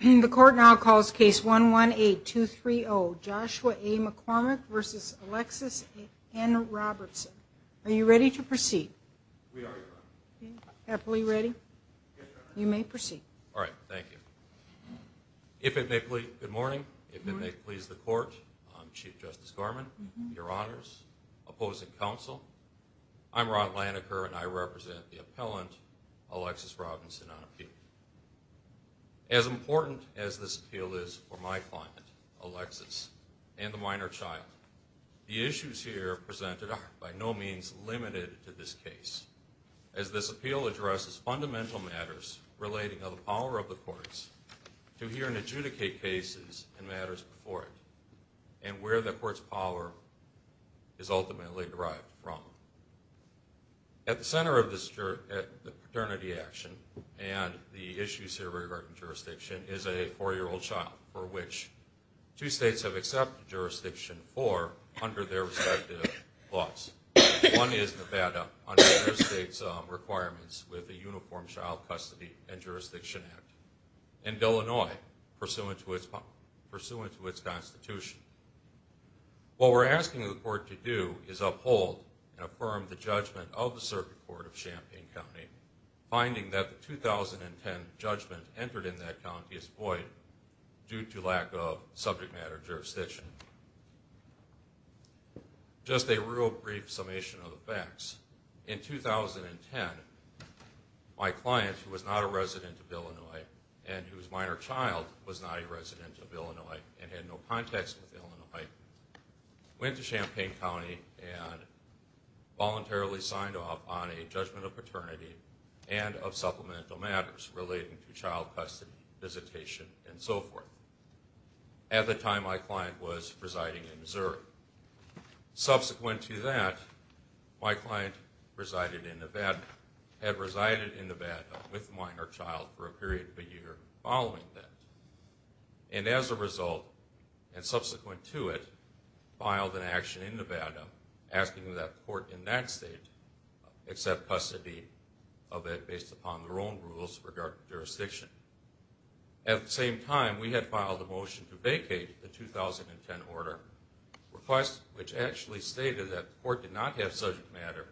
The court now calls case 118-230, Joshua A. McCormick v. Alexis N. Robertson. Are you ready to proceed? We are, Your Honor. Happily ready? Yes, Your Honor. You may proceed. All right, thank you. If it may please, good morning. Good morning. If it may please the court, Chief Justice Gorman, Your Honors, opposing counsel, I'm Ron Laniker, and I represent the appellant, Alexis Robertson, on appeal. As important as this appeal is for my client, Alexis, and the minor child, the issues here presented are by no means limited to this case, as this appeal addresses fundamental matters relating to the power of the courts to hear and adjudicate cases and matters before it and where the court's power is ultimately derived from. At the center of the paternity action and the issues here regarding jurisdiction is a 4-year-old child for which two states have accepted jurisdiction for under their respective laws. One is Nevada under their state's requirements with the Uniform Child Custody and Jurisdiction Act, and Illinois pursuant to its constitution. What we're asking the court to do is uphold and affirm the judgment of the Circuit Court of Champaign County, finding that the 2010 judgment entered in that county is void due to lack of subject matter jurisdiction. Just a real brief summation of the facts. In 2010, my client, who was not a resident of Illinois and whose minor child was not a resident of Illinois and had no context with Illinois, went to Champaign County and voluntarily signed off on a judgment of paternity and of supplemental matters relating to child custody, visitation, and so forth. Subsequent to that, my client had resided in Nevada with a minor child for a period of a year following that. And as a result, and subsequent to it, filed an action in Nevada asking that the court in that state accept custody of it based upon their own rules regarding jurisdiction. At the same time, we had filed a motion to vacate the 2010 order which actually stated that the court did not have subject matter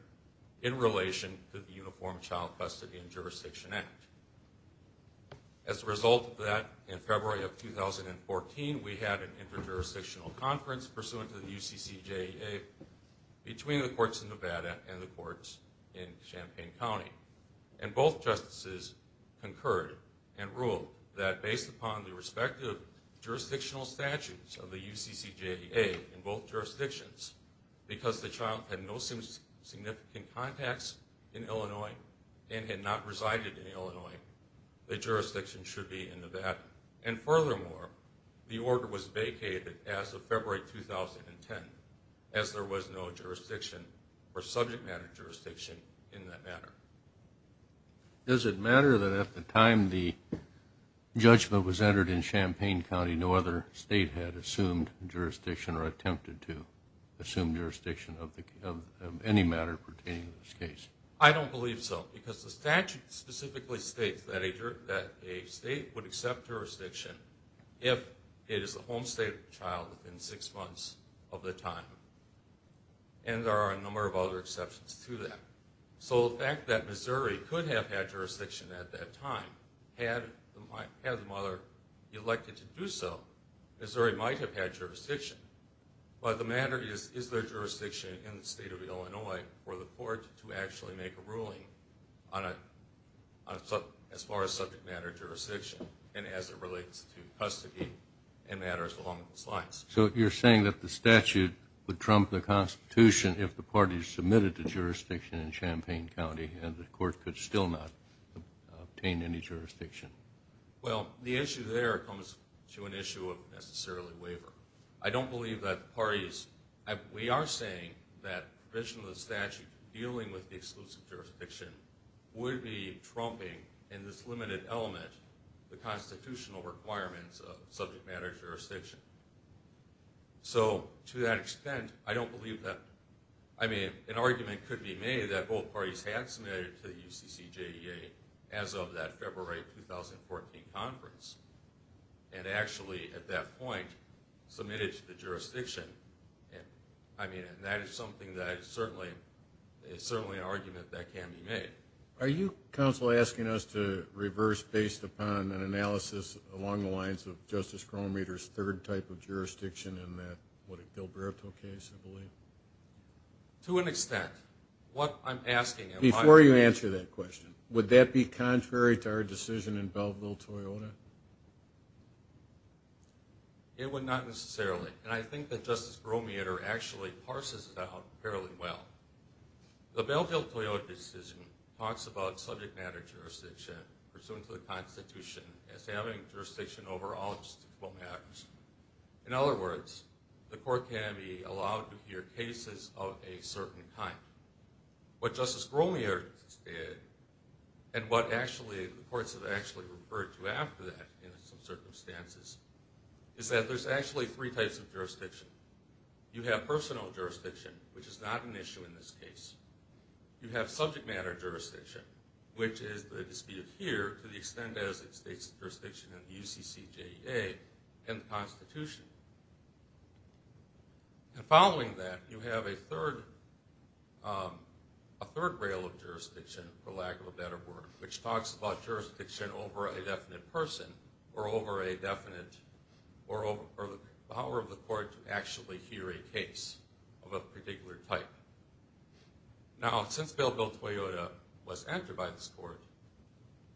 in relation to the Uniform Child Custody and Jurisdiction Act. As a result of that, in February of 2014, we had an interjurisdictional conference pursuant to the UCCJEA between the courts in Nevada and the courts in Champaign County. And both justices concurred and ruled that based upon the respective jurisdictional statutes of the UCCJEA in both jurisdictions, because the child had no significant contacts in Illinois and had not resided in Illinois, the jurisdiction should be in Nevada. And furthermore, the order was vacated as of February 2010 as there was no jurisdiction or subject matter jurisdiction in that matter. Does it matter that at the time the judgment was entered in Champaign County no other state had assumed jurisdiction or attempted to assume jurisdiction of any matter pertaining to this case? I don't believe so, because the statute specifically states that a state would accept jurisdiction if it is the home state of the child within six months of the time. And there are a number of other exceptions to that. So the fact that Missouri could have had jurisdiction at that time, had the mother elected to do so, Missouri might have had jurisdiction. But the matter is, is there jurisdiction in the state of Illinois for the court to actually make a ruling as far as subject matter jurisdiction and as it relates to custody and matters along those lines. Is there jurisdiction if the parties submitted to jurisdiction in Champaign County and the court could still not obtain any jurisdiction? Well, the issue there comes to an issue of necessarily waiver. I don't believe that the parties – we are saying that provision of the statute dealing with the exclusive jurisdiction would be trumping in this limited element the constitutional requirements of subject matter jurisdiction. So to that extent, I don't believe that – I mean, an argument could be made that both parties had submitted to the UCCJEA as of that February 2014 conference and actually at that point submitted to the jurisdiction. I mean, that is something that is certainly an argument that can be made. Are you, counsel, asking us to reverse based upon an analysis along the lines of Justice Gromitter's third type of jurisdiction in that, what, a Gilberto case, I believe? To an extent. What I'm asking – Before you answer that question, would that be contrary to our decision in Belleville-Toyota? It would not necessarily. And I think that Justice Gromitter actually parses it out fairly well. The Belleville-Toyota decision talks about subject matter jurisdiction pursuant to the Constitution as having jurisdiction over all justiceful matters. In other words, the court can be allowed to hear cases of a certain kind. What Justice Gromitter did, and what actually the courts have actually referred to after that in some circumstances, is that there's actually three types of jurisdiction. You have personal jurisdiction, which is not an issue in this case. You have subject matter jurisdiction, which is the dispute here to the extent as it states jurisdiction in the UCCJEA and the Constitution. And following that, you have a third rail of jurisdiction, for lack of a better word, which talks about jurisdiction over a definite person or over a definite – or the power of the court to actually hear a case of a particular type. Now, since Belleville-Toyota was entered by this court,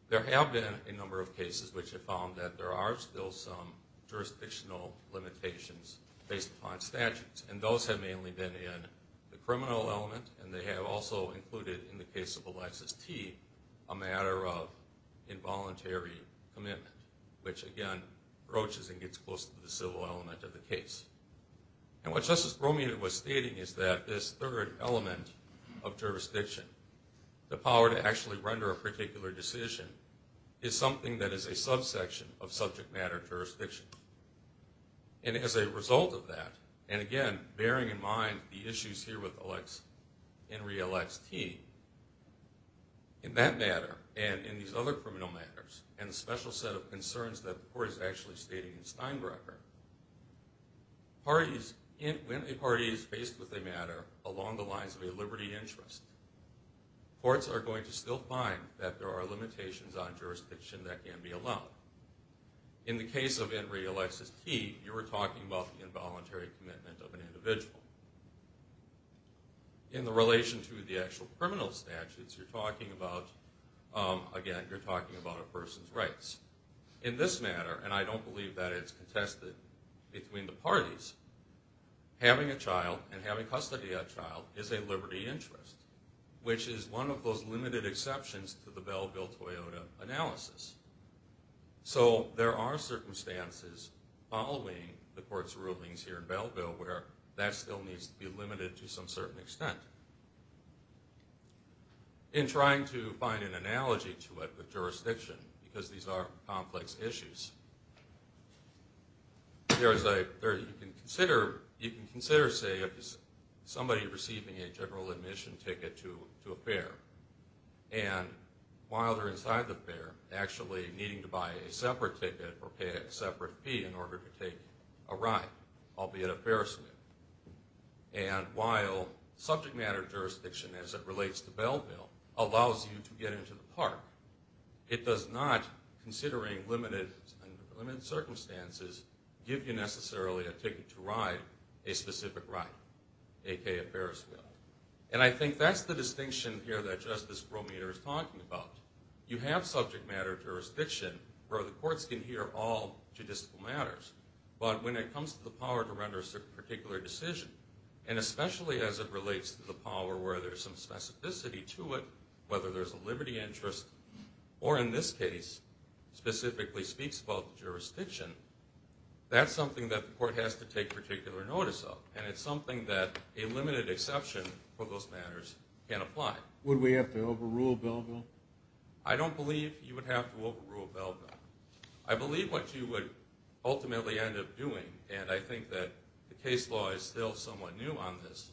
there have been a number of cases which have found that there are still some jurisdictional limitations based upon statutes. And those have mainly been in the criminal element, and they have also included, in the case of Alexis T., a matter of involuntary commitment, which again approaches and gets close to the civil element of the case. And what Justice Gromitter was stating is that this third element of jurisdiction, the power to actually render a particular decision, is something that is a subsection of subject matter jurisdiction. And as a result of that, and again, bearing in mind the issues here with Enri Alex T., in that matter, and in these other criminal matters, and the special set of concerns that the court is actually stating in Steinbrecher, when a party is faced with a matter along the lines of a liberty interest, courts are going to still find that there are limitations on jurisdiction that can be allowed. In the case of Enri Alexis T., you were talking about the involuntary commitment of an individual. In the relation to the actual criminal statutes, you're talking about, again, you're talking about a person's rights. In this matter, and I don't believe that it's contested between the parties, having a child and having custody of that child is a liberty interest, which is one of those limited exceptions to the Belleville-Toyota analysis. So there are circumstances following the court's rulings here in Belleville where that still needs to be limited to some certain extent. In trying to find an analogy to it with jurisdiction, because these are complex issues, you can consider, say, somebody receiving a general admission ticket to a fair. And while they're inside the fair, actually needing to buy a separate ticket or pay a separate fee in order to take a ride, albeit a ferris wheel. And while subject matter jurisdiction, as it relates to Belleville, allows you to get into the park, it does not, considering limited circumstances, give you necessarily a ticket to ride a specific ride, a.k.a. a ferris wheel. And I think that's the distinction here that Justice Grometer is talking about. You have subject matter jurisdiction where the courts can hear all judicial matters. But when it comes to the power to render a particular decision, and especially as it relates to the power where there's some specificity to it, whether there's a liberty interest or, in this case, specifically speaks about jurisdiction, that's something that the court has to take particular notice of. And it's something that a limited exception for those matters can apply. Would we have to overrule Belleville? I don't believe you would have to overrule Belleville. I believe what you would ultimately end up doing, and I think that the case law is still somewhat new on this,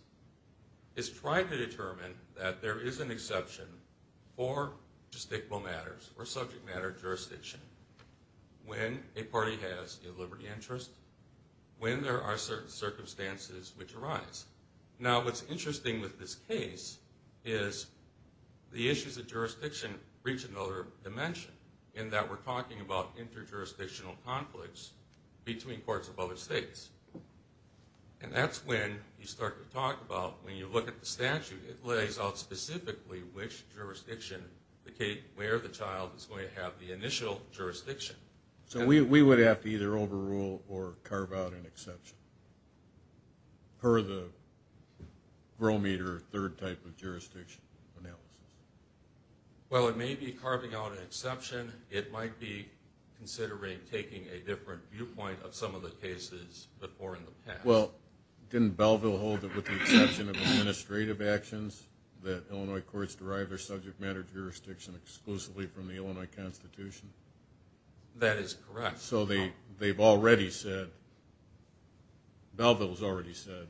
is try to determine that there is an exception for jurisdictal matters or subject matter jurisdiction when a party has a liberty interest, when there are certain circumstances which arise. Now, what's interesting with this case is the issues of jurisdiction reach another dimension in that we're talking about interjurisdictional conflicts between courts of other states. And that's when you start to talk about, when you look at the statute, it lays out specifically which jurisdiction where the child is going to have the initial jurisdiction. So we would have to either overrule or carve out an exception per the Grometer third type of jurisdiction analysis? Well, it may be carving out an exception. It might be considering taking a different viewpoint of some of the cases before in the past. Well, didn't Belleville hold it with the exception of administrative actions that Illinois courts derive their subject matter jurisdiction exclusively from the Illinois Constitution? That is correct. So they've already said, Belleville has already said,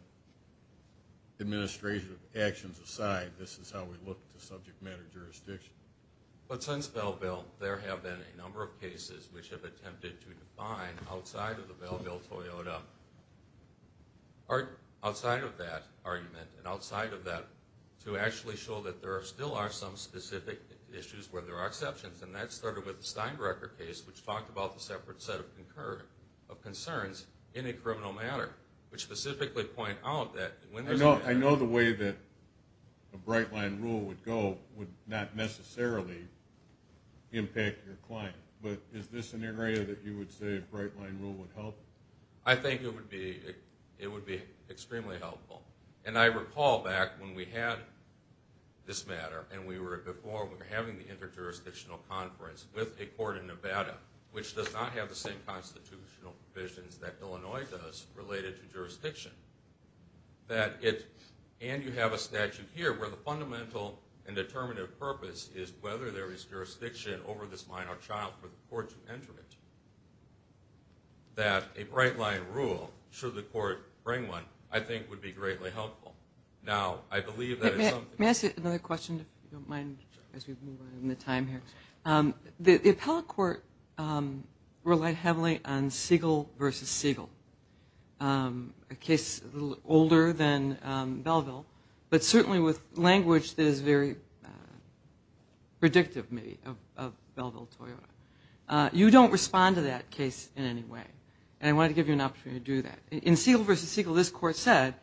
administrative actions aside, this is how we look to subject matter jurisdiction. But since Belleville, there have been a number of cases which have attempted to define outside of the Belleville-Toyota, outside of that argument and outside of that, to actually show that there still are some specific issues where there are exceptions. And that started with the Steinbrecher case, which talked about the separate set of concerns in a criminal matter, which specifically point out that when there's a... I know the way that a bright line rule would go would not necessarily impact your client. But is this an area that you would say a bright line rule would help? I think it would be extremely helpful. And I recall back when we had this matter, and before we were having the inter-jurisdictional conference with a court in Nevada, which does not have the same constitutional provisions that Illinois does related to jurisdiction. And you have a statute here where the fundamental and determinative purpose is whether there is jurisdiction over this minor child for the court to enter it. That a bright line rule, should the court bring one, I think would be greatly helpful. Now, I believe that is something... Let me ask you another question, if you don't mind, as we move on in the time here. The appellate court relied heavily on Siegel versus Siegel, a case a little older than Belleville, but certainly with language that is very predictive, maybe, of Belleville-Toyota. You don't respond to that case in any way. And I wanted to give you an opportunity to do that. In Siegel versus Siegel, this court said,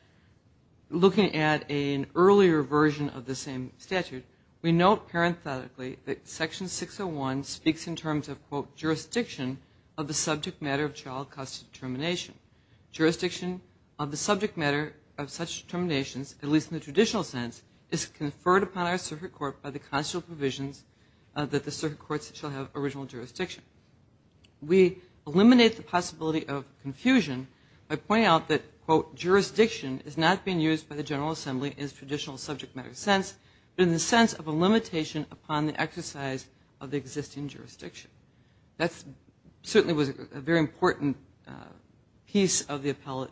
looking at an earlier version of the same statute, we note parenthetically that Section 601 speaks in terms of, quote, jurisdiction of the subject matter of child custody determination. Jurisdiction of the subject matter of such determinations, at least in the traditional sense, is conferred upon our circuit court by the constitutional provisions that the circuit courts shall have original jurisdiction. We eliminate the possibility of confusion by pointing out that, quote, jurisdiction is not being used by the General Assembly in its traditional subject matter sense, but in the sense of a limitation upon the exercise of the existing jurisdiction. That certainly was a very important piece of the appellate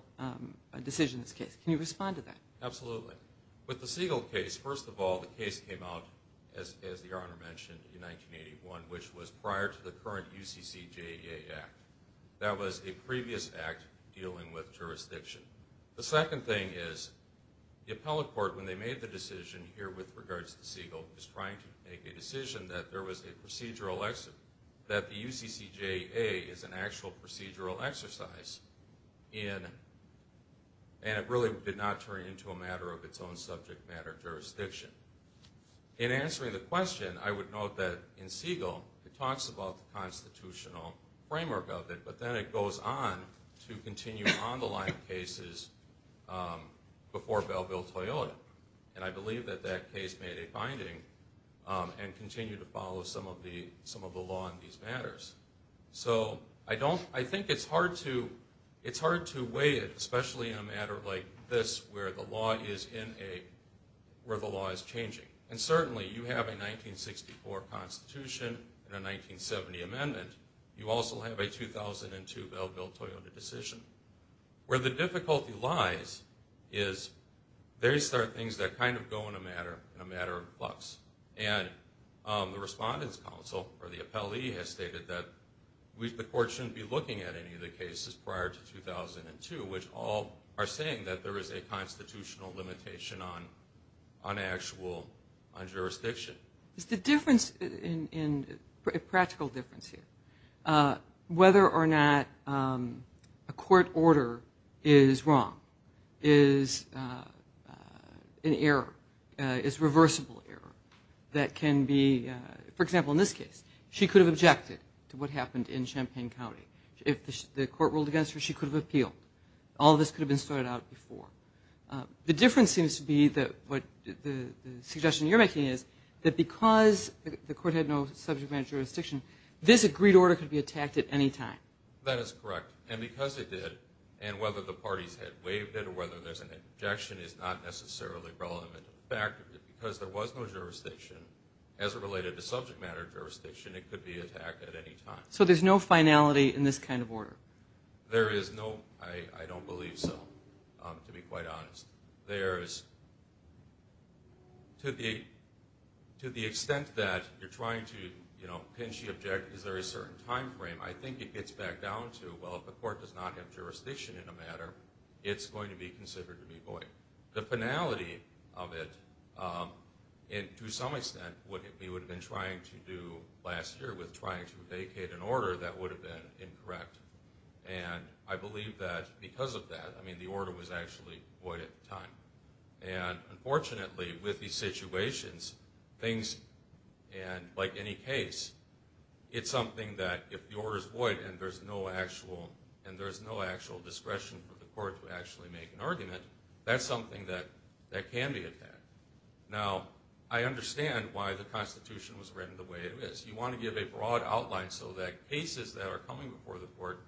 decision in this case. Can you respond to that? Absolutely. With the Siegel case, first of all, the case came out, as the Honor mentioned, in 1981, which was prior to the current UCCJA Act. That was a previous act dealing with jurisdiction. The second thing is the appellate court, when they made the decision here with regards to Siegel, was trying to make a decision that there was a procedural exit, that the UCCJA is an actual procedural exercise. And it really did not turn into a matter of its own subject matter jurisdiction. In answering the question, I would note that in Siegel, it talks about the constitutional framework of it, but then it goes on to continue on the line of cases before Bellville-Toyota. And I believe that that case made a finding and continued to follow some of the law in these matters. So I think it's hard to weigh it, especially in a matter like this, where the law is changing. And certainly, you have a 1964 Constitution and a 1970 amendment. You also have a 2002 Bellville-Toyota decision. Where the difficulty lies is there are things that kind of go in a matter of clucks. And the Respondents' Council, or the appellee, has stated that the court shouldn't be looking at any of the cases prior to 2002, which all are saying that there is a constitutional limitation on actual jurisdiction. Is the difference, a practical difference here, whether or not a court order is wrong, is an error, is reversible error, that can be, for example, in this case, she could have objected to what happened in Champaign County. If the court ruled against her, she could have appealed. All of this could have been sorted out before. The difference seems to be that what the suggestion you're making is that because the court had no subject matter jurisdiction, this agreed order could be attacked at any time. That is correct. And because it did, and whether the parties had waived it or whether there's an objection is not necessarily relevant. In fact, because there was no jurisdiction, as it related to subject matter jurisdiction, it could be attacked at any time. So there's no finality in this kind of order? There is no, I don't believe so, to be quite honest. There is, to the extent that you're trying to, you know, can she object, is there a certain time frame? I think it gets back down to, well, if the court does not have jurisdiction in a matter, it's going to be considered to be void. The finality of it, to some extent, what we would have been trying to do last year with trying to vacate an order, that would have been incorrect. And I believe that because of that, I mean, the order was actually void at the time. And unfortunately, with these situations, things, and like any case, it's something that if the order's void and there's no actual discretion for the court to actually make an argument, that's something that can be attacked. Now, I understand why the Constitution was written the way it is. You want to give a broad outline so that cases that are coming before the court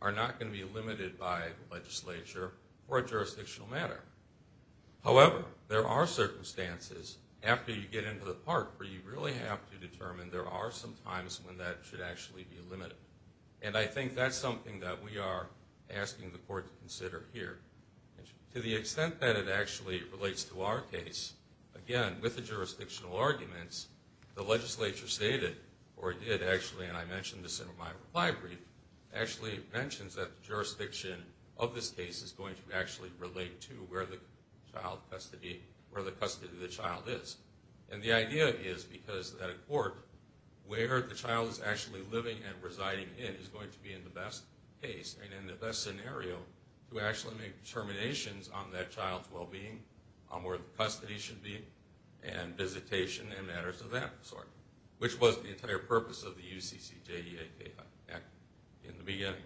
are not going to be limited by legislature or a jurisdictional matter. However, there are circumstances after you get into the park where you really have to determine there are some times when that should actually be limited. And I think that's something that we are asking the court to consider here. To the extent that it actually relates to our case, again, with the jurisdictional arguments, the legislature stated, or it did actually, and I mentioned this in my reply brief, actually mentions that the jurisdiction of this case is going to actually relate to where the custody of the child is. And the idea is because at a court, where the child is actually living and residing in is going to be in the best case and in the best scenario to actually make determinations on that child's well-being, on where the custody should be, and visitation and matters of that sort, which was the entire purpose of the UCCJEA Act in the beginning.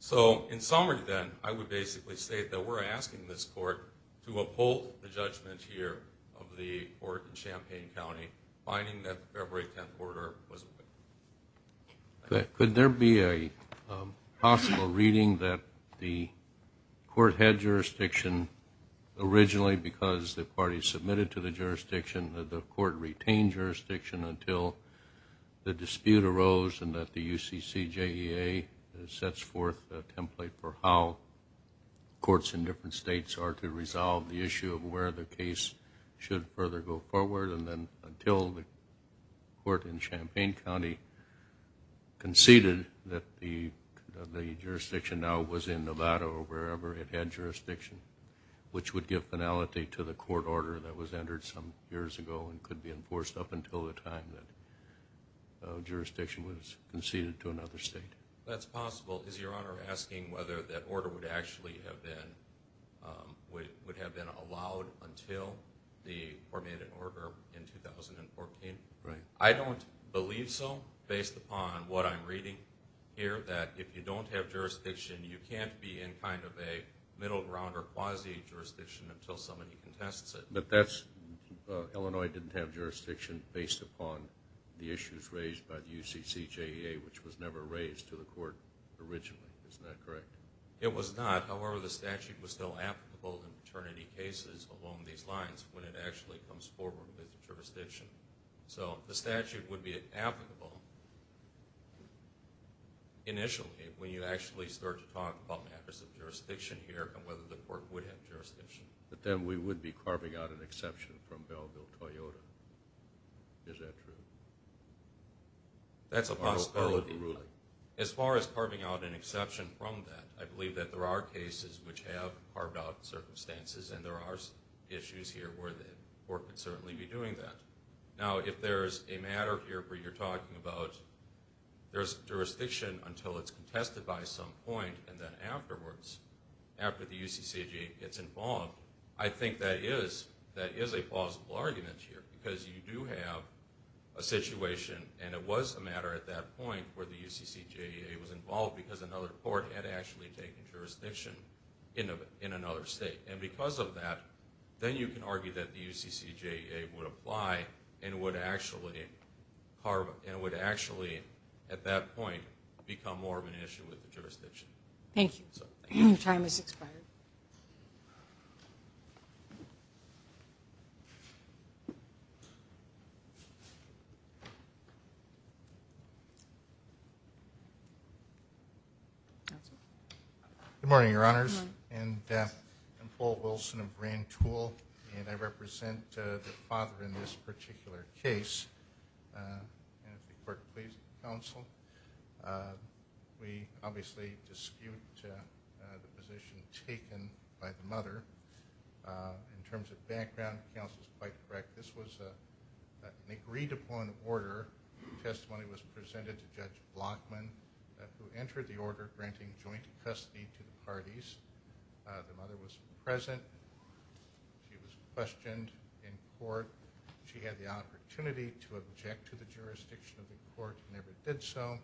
So in summary then, I would basically state that we're asking this court to uphold the judgment here of the court in Champaign County, finding that the February 10th order was a win. Could there be a possible reading that the court had jurisdiction originally because the party submitted to the jurisdiction, that the court retained jurisdiction until the dispute arose and that the UCCJEA sets forth a template for how courts in different states are to resolve the issue of where the case should further go forward and then until the court in Champaign County conceded that the jurisdiction now was in Nevada or wherever it had jurisdiction, which would give finality to the court order that was entered some years ago and could be enforced up until the time that jurisdiction was conceded to another state. That's possible. Is Your Honor asking whether that order would actually have been allowed until the formatted order in 2014? Right. I don't believe so based upon what I'm reading here, that if you don't have jurisdiction, you can't be in kind of a middle ground or quasi-jurisdiction until somebody contests it. But Illinois didn't have jurisdiction based upon the issues raised by the UCCJEA, which was never raised to the court originally. Isn't that correct? It was not. However, the statute was still applicable in paternity cases along these lines when it actually comes forward with jurisdiction. So the statute would be applicable initially when you actually start to talk about matters of jurisdiction here and whether the court would have jurisdiction. But then we would be carving out an exception from Bellville-Toyota. Is that true? That's a possibility. As far as carving out an exception from that, I believe that there are cases which have carved out circumstances, and there are issues here where the court could certainly be doing that. Now, if there's a matter here where you're talking about there's jurisdiction until it's contested by some point and then afterwards, after the UCCJEA gets involved, I think that is a plausible argument here because you do have a situation, and it was a matter at that point where the UCCJEA was involved because another court had actually taken jurisdiction in another state. And because of that, then you can argue that the UCCJEA would apply and would actually at that point become more of an issue with the jurisdiction. Thank you. Your time has expired. Counsel? Good morning, Your Honors. Good morning. I'm Paul Wilson of Rand Tool, and I represent the father in this particular case. And if the court pleases the counsel, we obviously dispute the position taken by the mother. In terms of background, the counsel is quite correct. This was an agreed-upon order. The testimony was presented to Judge Blockman, who entered the order granting joint custody to the parties. The mother was present. She was questioned in court. She had the opportunity to object to the jurisdiction of the court and never did so.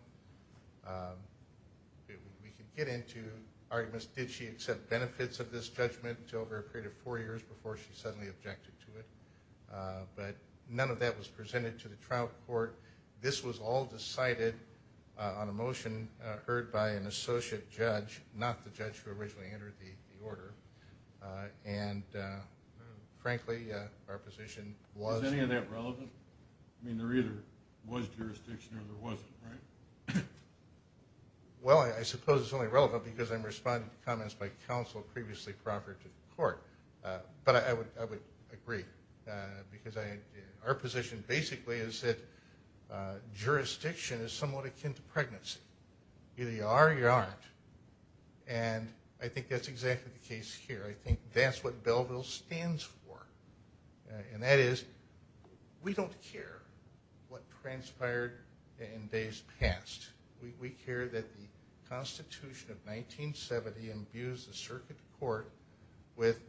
We could get into arguments. Did she accept benefits of this judgment over a period of four years before she suddenly objected to it? But none of that was presented to the trial court. This was all decided on a motion heard by an associate judge, not the judge who originally entered the order. And, frankly, our position was. Is any of that relevant? I mean, there either was jurisdiction or there wasn't, right? Well, I suppose it's only relevant But I would agree because our position, basically, is that jurisdiction is somewhat akin to pregnancy. Either you are or you aren't. And I think that's exactly the case here. I think that's what Belleville stands for. And that is we don't care what transpired in days past. We care that the Constitution of 1970 imbues the circuit court with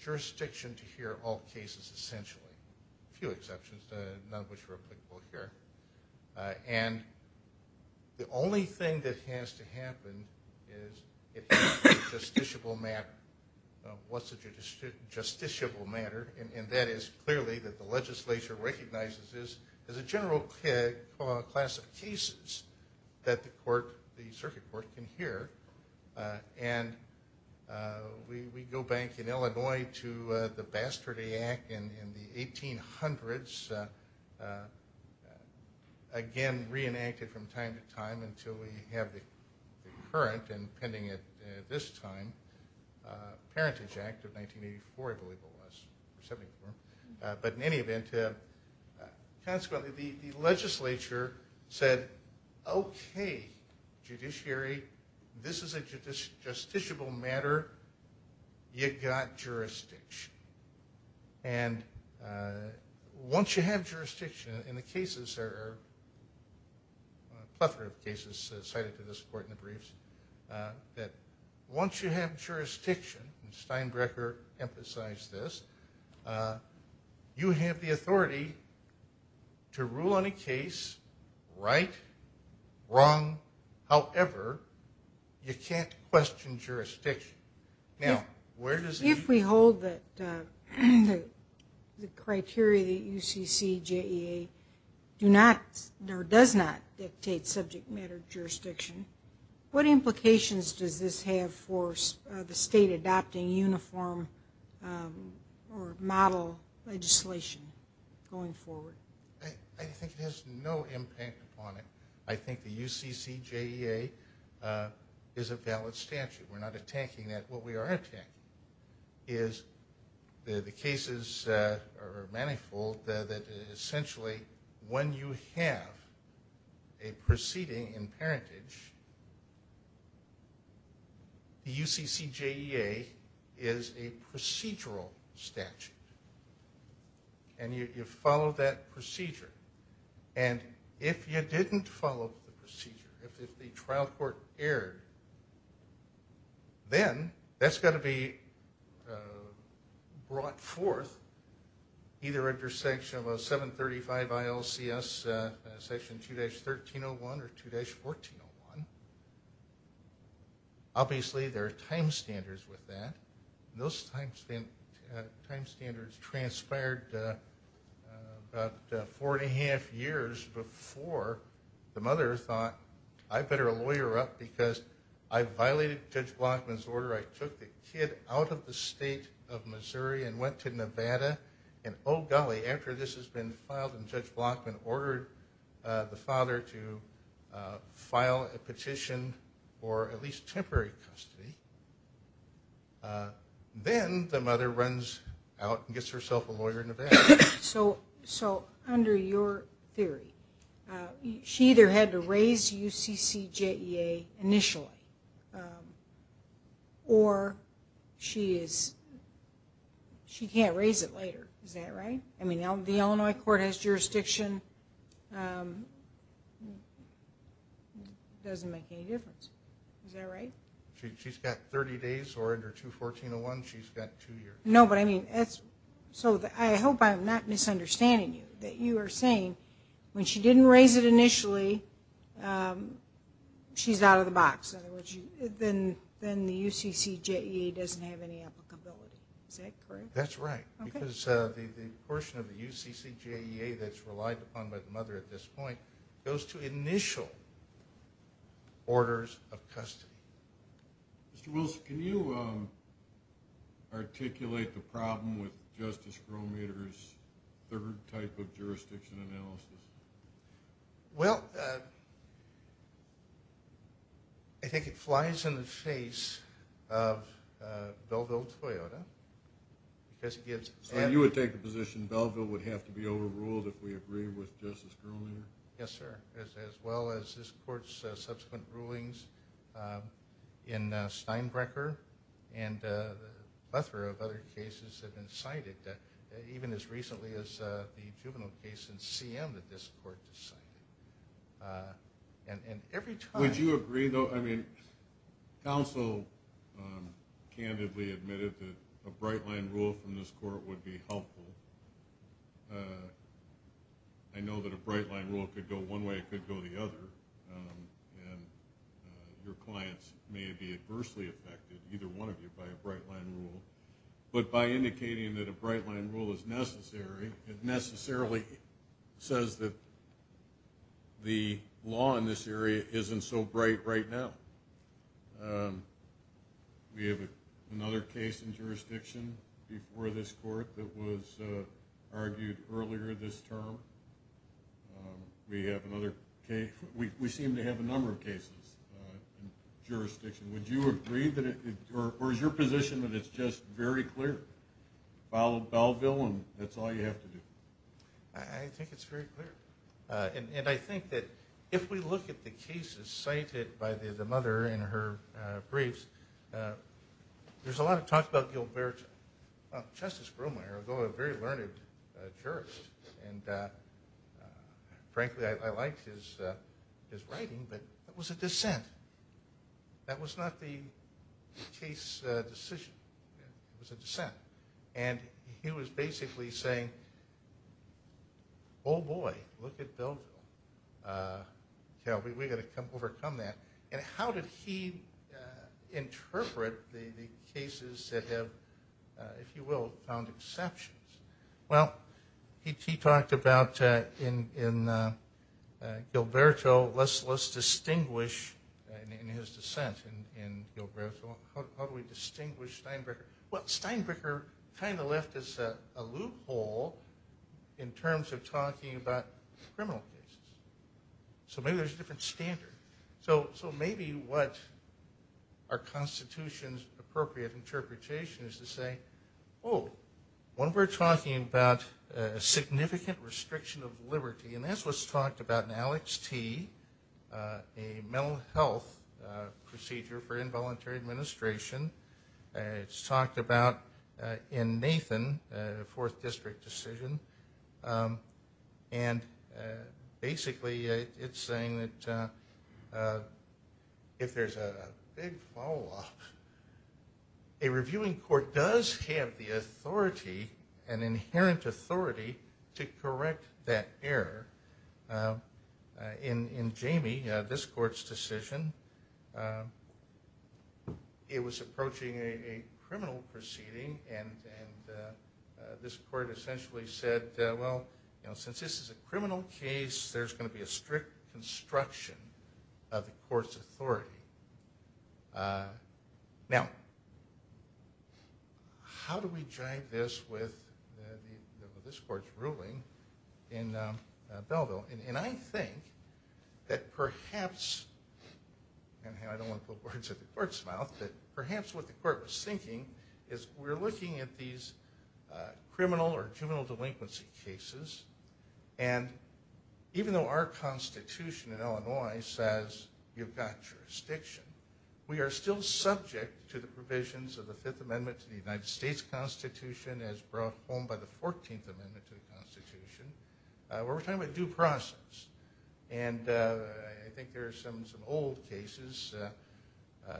jurisdiction to hear all cases, essentially. A few exceptions, none of which are applicable here. And the only thing that has to happen is it has to be a justiciable matter. What's a justiciable matter? And that is clearly that the legislature recognizes this as a general class of cases that the circuit court can hear. And we go back in Illinois to the Bastard Act in the 1800s. Again, reenacted from time to time until we have the current and pending it this time, Parentage Act of 1984, I believe it was. But in any event, consequently, the legislature said, Okay, judiciary, this is a justiciable matter. You got jurisdiction. And once you have jurisdiction, and the cases are a plethora of cases cited to this court in the briefs, that once you have jurisdiction, and Steinbrecher emphasized this, you have the authority to rule on a case, right, wrong, however, you can't question jurisdiction. If we hold that the criteria that UCCJEA do not or does not dictate subject matter jurisdiction, what implications does this have for the state adopting uniform or model legislation going forward? I think it has no impact upon it. I think the UCCJEA is a valid statute. We're not attacking that. What we are attacking is the cases are manifold, that essentially when you have a proceeding in parentage, the UCCJEA is a procedural statute. And you follow that procedure. And if you didn't follow the procedure, if the trial court erred, then that's got to be brought forth either under Section 735 ILCS, Section 2-1301 or 2-1401. Obviously, there are time standards with that. Those time standards transpired about four and a half years before the I violated Judge Blockman's order. I took the kid out of the state of Missouri and went to Nevada. And, oh, golly, after this has been filed and Judge Blockman ordered the father to file a petition for at least temporary custody, then the mother runs out and gets herself a lawyer in Nevada. So under your theory, she either had to raise UCCJEA initially or she can't raise it later. Is that right? I mean, the Illinois court has jurisdiction. It doesn't make any difference. Is that right? She's got 30 days or under 2-1401, she's got two years. No, but I mean, so I hope I'm not misunderstanding you, that you are saying when she didn't raise it initially, she's out of the box. In other words, then the UCCJEA doesn't have any applicability. Is that correct? That's right. Because the portion of the UCCJEA that's relied upon by the mother at this point goes to initial orders of custody. Mr. Wilson, can you articulate the problem with Justice Grometer's third type of jurisdiction analysis? Well, I think it flies in the face of Belleville-Toyota. So you would take the position Belleville would have to be overruled if we agree with Justice Grometer? Yes, sir. As well as this court's subsequent rulings in Steinbrecher and a plethora of other cases have been cited, even as recently as the juvenile case in CM that this court decided. Would you agree, though? I mean, counsel candidly admitted that a bright-line rule from this court would be helpful. I know that a bright-line rule could go one way, it could go the other, and your clients may be adversely affected, either one of you, by a bright-line rule. But by indicating that a bright-line rule is necessary, it necessarily says that the law in this area isn't so bright right now. We have another case in jurisdiction before this court that was argued earlier this term. We have another case. We seem to have a number of cases in jurisdiction. Would you agree or is your position that it's just very clear? Belleville and that's all you have to do? I think it's very clear. And I think that if we look at the cases cited by the mother in her briefs, there's a lot of talk about Gilberto. Well, Justice Groomeyer, though a very learned jurist, and frankly I liked his writing, but that was a dissent. That was not the case decision. It was a dissent. And he was basically saying, oh, boy, look at Belleville. We've got to overcome that. And how did he interpret the cases that have, if you will, found exceptions? Well, he talked about in Gilberto, let's distinguish in his dissent in Gilberto, how do we distinguish Steinbricker? Well, Steinbricker kind of left us a loophole in terms of talking about criminal cases. So maybe there's a different standard. So maybe what our Constitution's appropriate interpretation is to say, oh, when we're talking about a significant restriction of liberty, and that's what's talked about in Alex T., a mental health procedure for involuntary administration. It's talked about in Nathan, a fourth district decision. And basically it's saying that if there's a big follow-up, a reviewing court does have the authority, an inherent authority to correct that error. In Jamie, this court's decision, it was approaching a criminal proceeding, and this court essentially said, well, since this is a criminal case, there's going to be a strict construction of the court's authority. Now, how do we drive this with this court's ruling in Belleville? And I think that perhaps, and I don't want to put words in the court's mouth, but perhaps what the court was thinking is we're looking at these criminal or juvenile delinquency cases, and even though our Constitution in Illinois says you've got jurisdiction, we are still subject to the provisions of the Fifth Amendment to the United States Constitution as brought home by the 14th Amendment to the Constitution, where we're talking about due process. And I think there are some old cases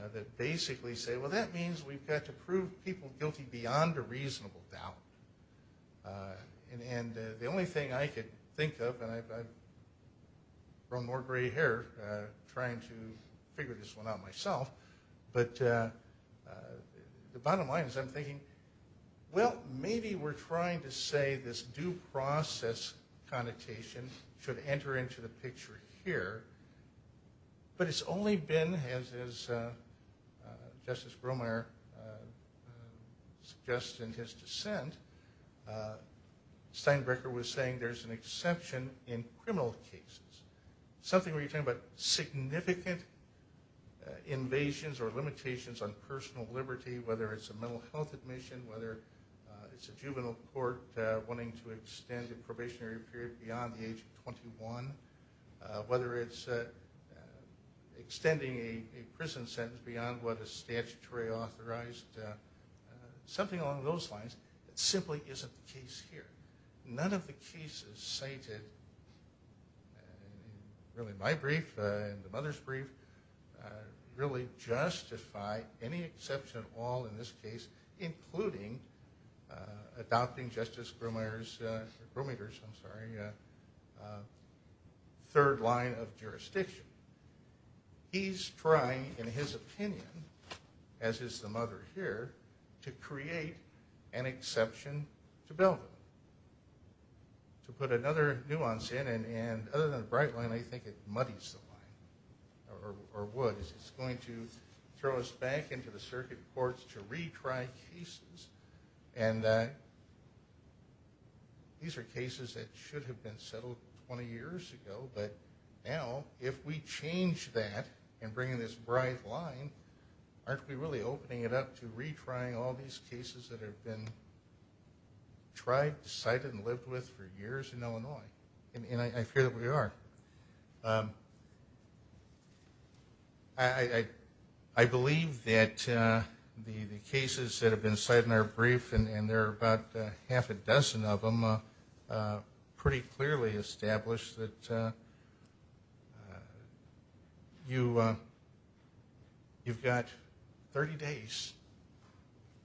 that basically say, well, that means we've got to prove people guilty beyond a reasonable doubt. And the only thing I could think of, and I've grown more gray hair trying to figure this one out myself, but the bottom line is I'm thinking, well, maybe we're trying to say this due process connotation should enter into the picture here. But it's only been, as Justice Bromeyer suggests in his dissent, Steinbrecher was saying there's an exception in criminal cases, something where you're talking about significant invasions or limitations on personal liberty, whether it's a mental health admission, whether it's a juvenile court wanting to extend a probationary period beyond the age of 21, whether it's extending a prison sentence beyond what is statutorily authorized, something along those lines that simply isn't the case here. None of the cases cited in my brief and the mother's brief really justify any exception at all in this case, including adopting Justice Bromeyer's third line of jurisdiction. He's trying, in his opinion, as is the mother here, to create an exception to Belden, to put another nuance in. And other than the bright line, I think it muddies the line or would. It's going to throw us back into the circuit courts to retry cases. And these are cases that should have been settled 20 years ago. But now, if we change that and bring in this bright line, aren't we really opening it up to retrying all these cases that have been tried, cited, and lived with for years in Illinois? And I fear that we are. I believe that the cases that have been cited in our brief, and there are about half a dozen of them, pretty clearly established that you've got 30 days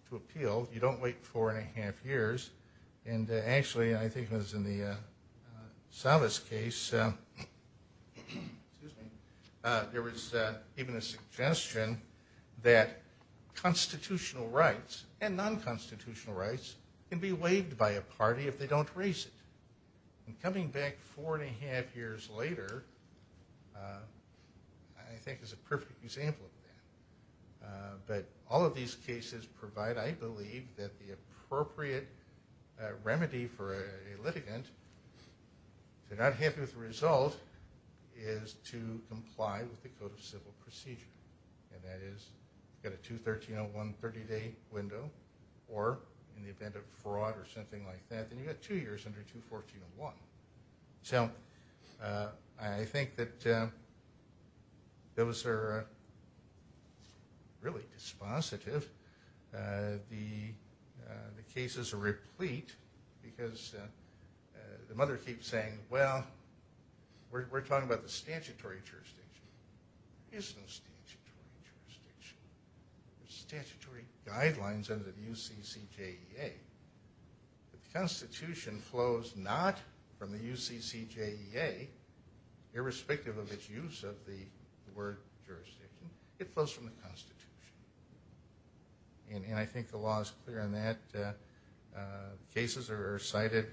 to appeal. You don't wait four and a half years. And actually, I think it was in the Salvas case, there was even a suggestion that constitutional rights and non-constitutional rights can be waived by a party if they don't raise it. And coming back four and a half years later, I think is a perfect example of that. But all of these cases provide, I believe, that the appropriate remedy for a litigant, if they're not happy with the result, is to comply with the Code of Civil Procedure. And that is, you've got a 213.01 30-day window, or in the event of fraud or something like that, then you've got two years under 214.01. So I think that those are really dispositive. The cases are replete because the mother keeps saying, well, we're talking about the statutory jurisdiction. There is no statutory jurisdiction. There's statutory guidelines under the UCCJEA. The Constitution flows not from the UCCJEA, irrespective of its use of the word jurisdiction. It flows from the Constitution. And I think the law is clear on that. Cases are cited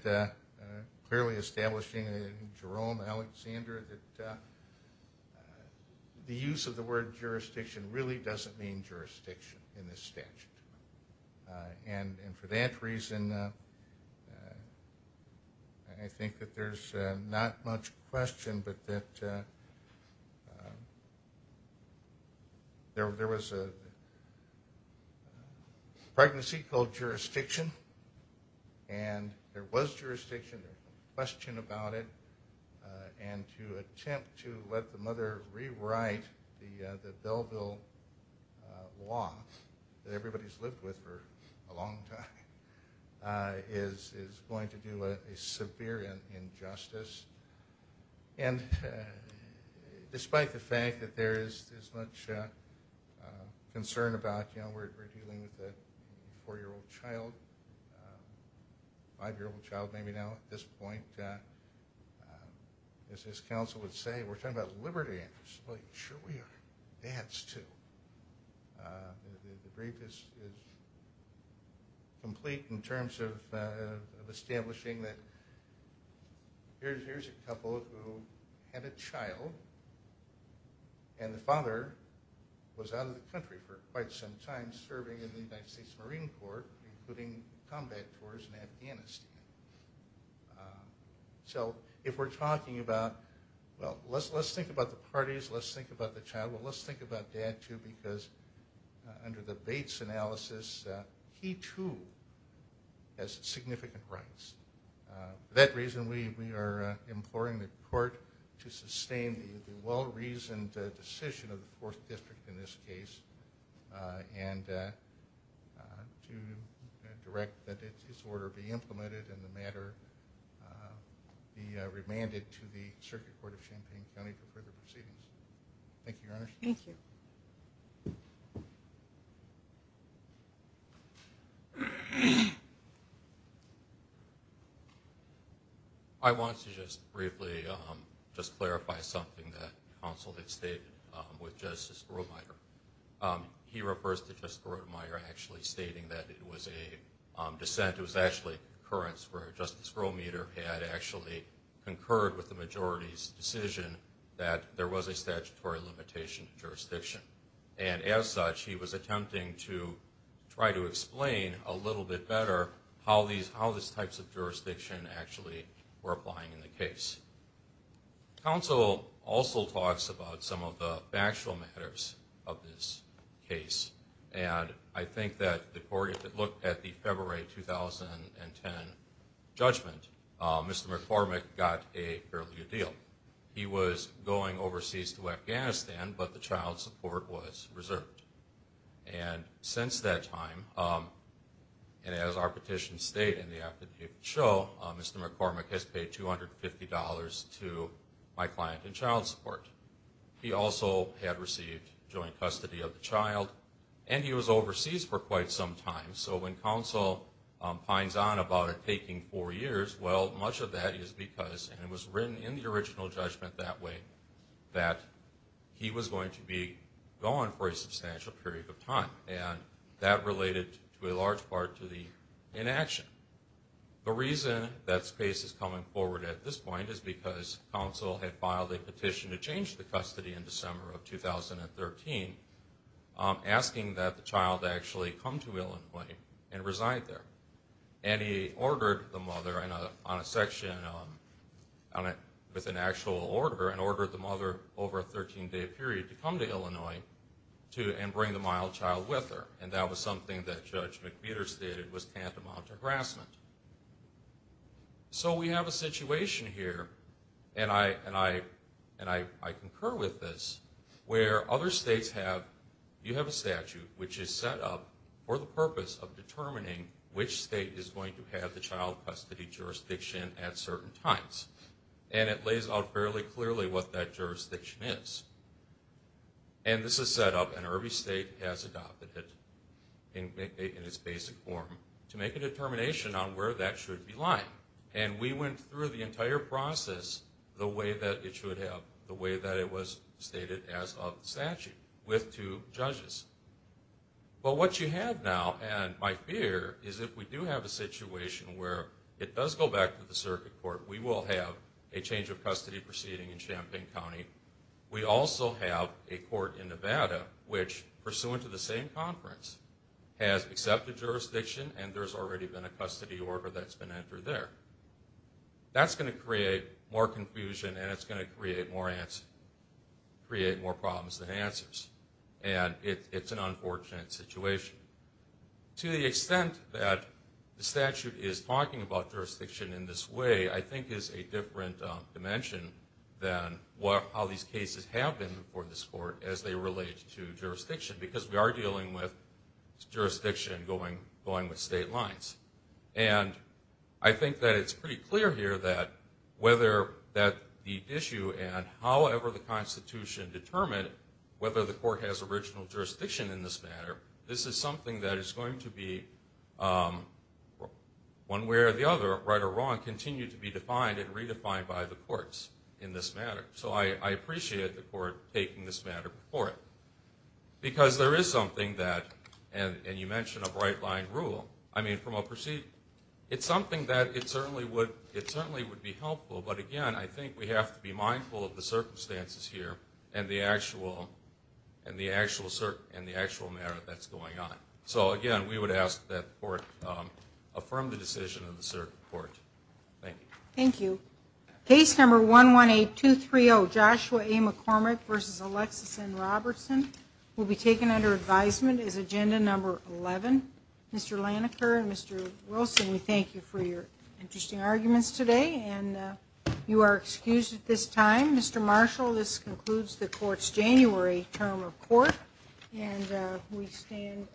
clearly establishing, Jerome, Alexander, that the use of the word jurisdiction really doesn't mean jurisdiction in this statute. And for that reason, I think that there's not much question but that there was a pregnancy called jurisdiction. And there was jurisdiction. There's no question about it. And to attempt to let the mother rewrite the Belleville law that everybody's lived with for a long time is going to do a severe injustice. And despite the fact that there is much concern about, you know, we're dealing with a 4-year-old child, 5-year-old child maybe now at this point, as his counsel would say, we're talking about liberty. I'm like, sure we are. Dads, too. The brief is complete in terms of establishing that here's a couple who had a child and the father was out of the country for quite some time serving in the United States Marine Corps including combat tours in Afghanistan. So if we're talking about, well, let's think about the parties. Let's think about the child. Well, let's think about dad, too, because under the Bates analysis, he, too, has significant rights. For that reason, we are imploring the court to sustain the well-reasoned decision of the 4th District in this case and to direct that this order be implemented and the matter be remanded to the Circuit Court of Champaign County for further proceedings. Thank you, Your Honor. Thank you. I want to just briefly just clarify something that counsel had stated with Justice Grodemeyer. He refers to Justice Grodemeyer actually stating that it was a dissent. It was actually a concurrence where Justice Grodemeyer had actually concurred with the majority's decision that there was a statutory limitation to jurisdiction. And as such, he was attempting to try to explain a little bit better how these types of jurisdiction actually were applying in the case. Counsel also talks about some of the factual matters of this case. And I think that the court, if it looked at the February 2010 judgment, Mr. McCormick got a fairly good deal. He was going overseas to Afghanistan, but the child support was reserved. And since that time, and as our petitions state in the affidavit show, Mr. McCormick has paid $250 to my client in child support. He also had received joint custody of the child, and he was overseas for quite some time. So when counsel pines on about it taking four years, well, much of that is because, and it was written in the original judgment that way, that he was going to be gone for a substantial period of time. And that related to a large part to the inaction. The reason that space is coming forward at this point is because counsel had filed a petition to change the custody in December of 2013, asking that the child actually come to Illinois and reside there. And he ordered the mother on a section with an actual order, and ordered the mother over a 13-day period to come to Illinois and bring the mild child with her. And that was something that Judge McPeter stated was tantamount to harassment. So we have a situation here, and I concur with this, where other states have, you have a statute which is set up for the purpose of determining which state is going to have the child custody jurisdiction at certain times. And it lays out fairly clearly what that jurisdiction is. And this is set up, and every state has adopted it in its basic form to make a determination on where that should be lying. And we went through the entire process the way that it should have, the way that it was stated as of statute with two judges. But what you have now, and my fear, is if we do have a situation where it does go back to the circuit court, we will have a change of custody proceeding in Champaign County. We also have a court in Nevada which, pursuant to the same conference, has accepted jurisdiction, and there's already been a custody order that's been entered there. That's going to create more confusion, and it's going to create more problems than answers. And it's an unfortunate situation. To the extent that the statute is talking about jurisdiction in this way, I think is a different dimension than how these cases have been for this court as they relate to jurisdiction, because we are dealing with jurisdiction going with state lines. And I think that it's pretty clear here that whether that the issue and however the Constitution determined whether the court has original jurisdiction in this matter, this is something that is going to be, one way or the other, right or wrong, continue to be defined and redefined by the courts in this matter. So I appreciate the court taking this matter before it, because there is something that, and you mentioned a bright-line rule. I mean, from a proceeding, it's something that it certainly would be helpful, but again, I think we have to be mindful of the circumstances here and the actual matter that's going on. So, again, we would ask that the court affirm the decision of the court. Thank you. Thank you. Case number 118230, Joshua A. McCormick v. Alexis N. Robertson, will be taken under advisement as agenda number 11. Mr. Laniker and Mr. Wilson, we thank you for your interesting arguments today, and you are excused at this time. Mr. Marshall, this concludes the court's January term of court, and we stand adjourned.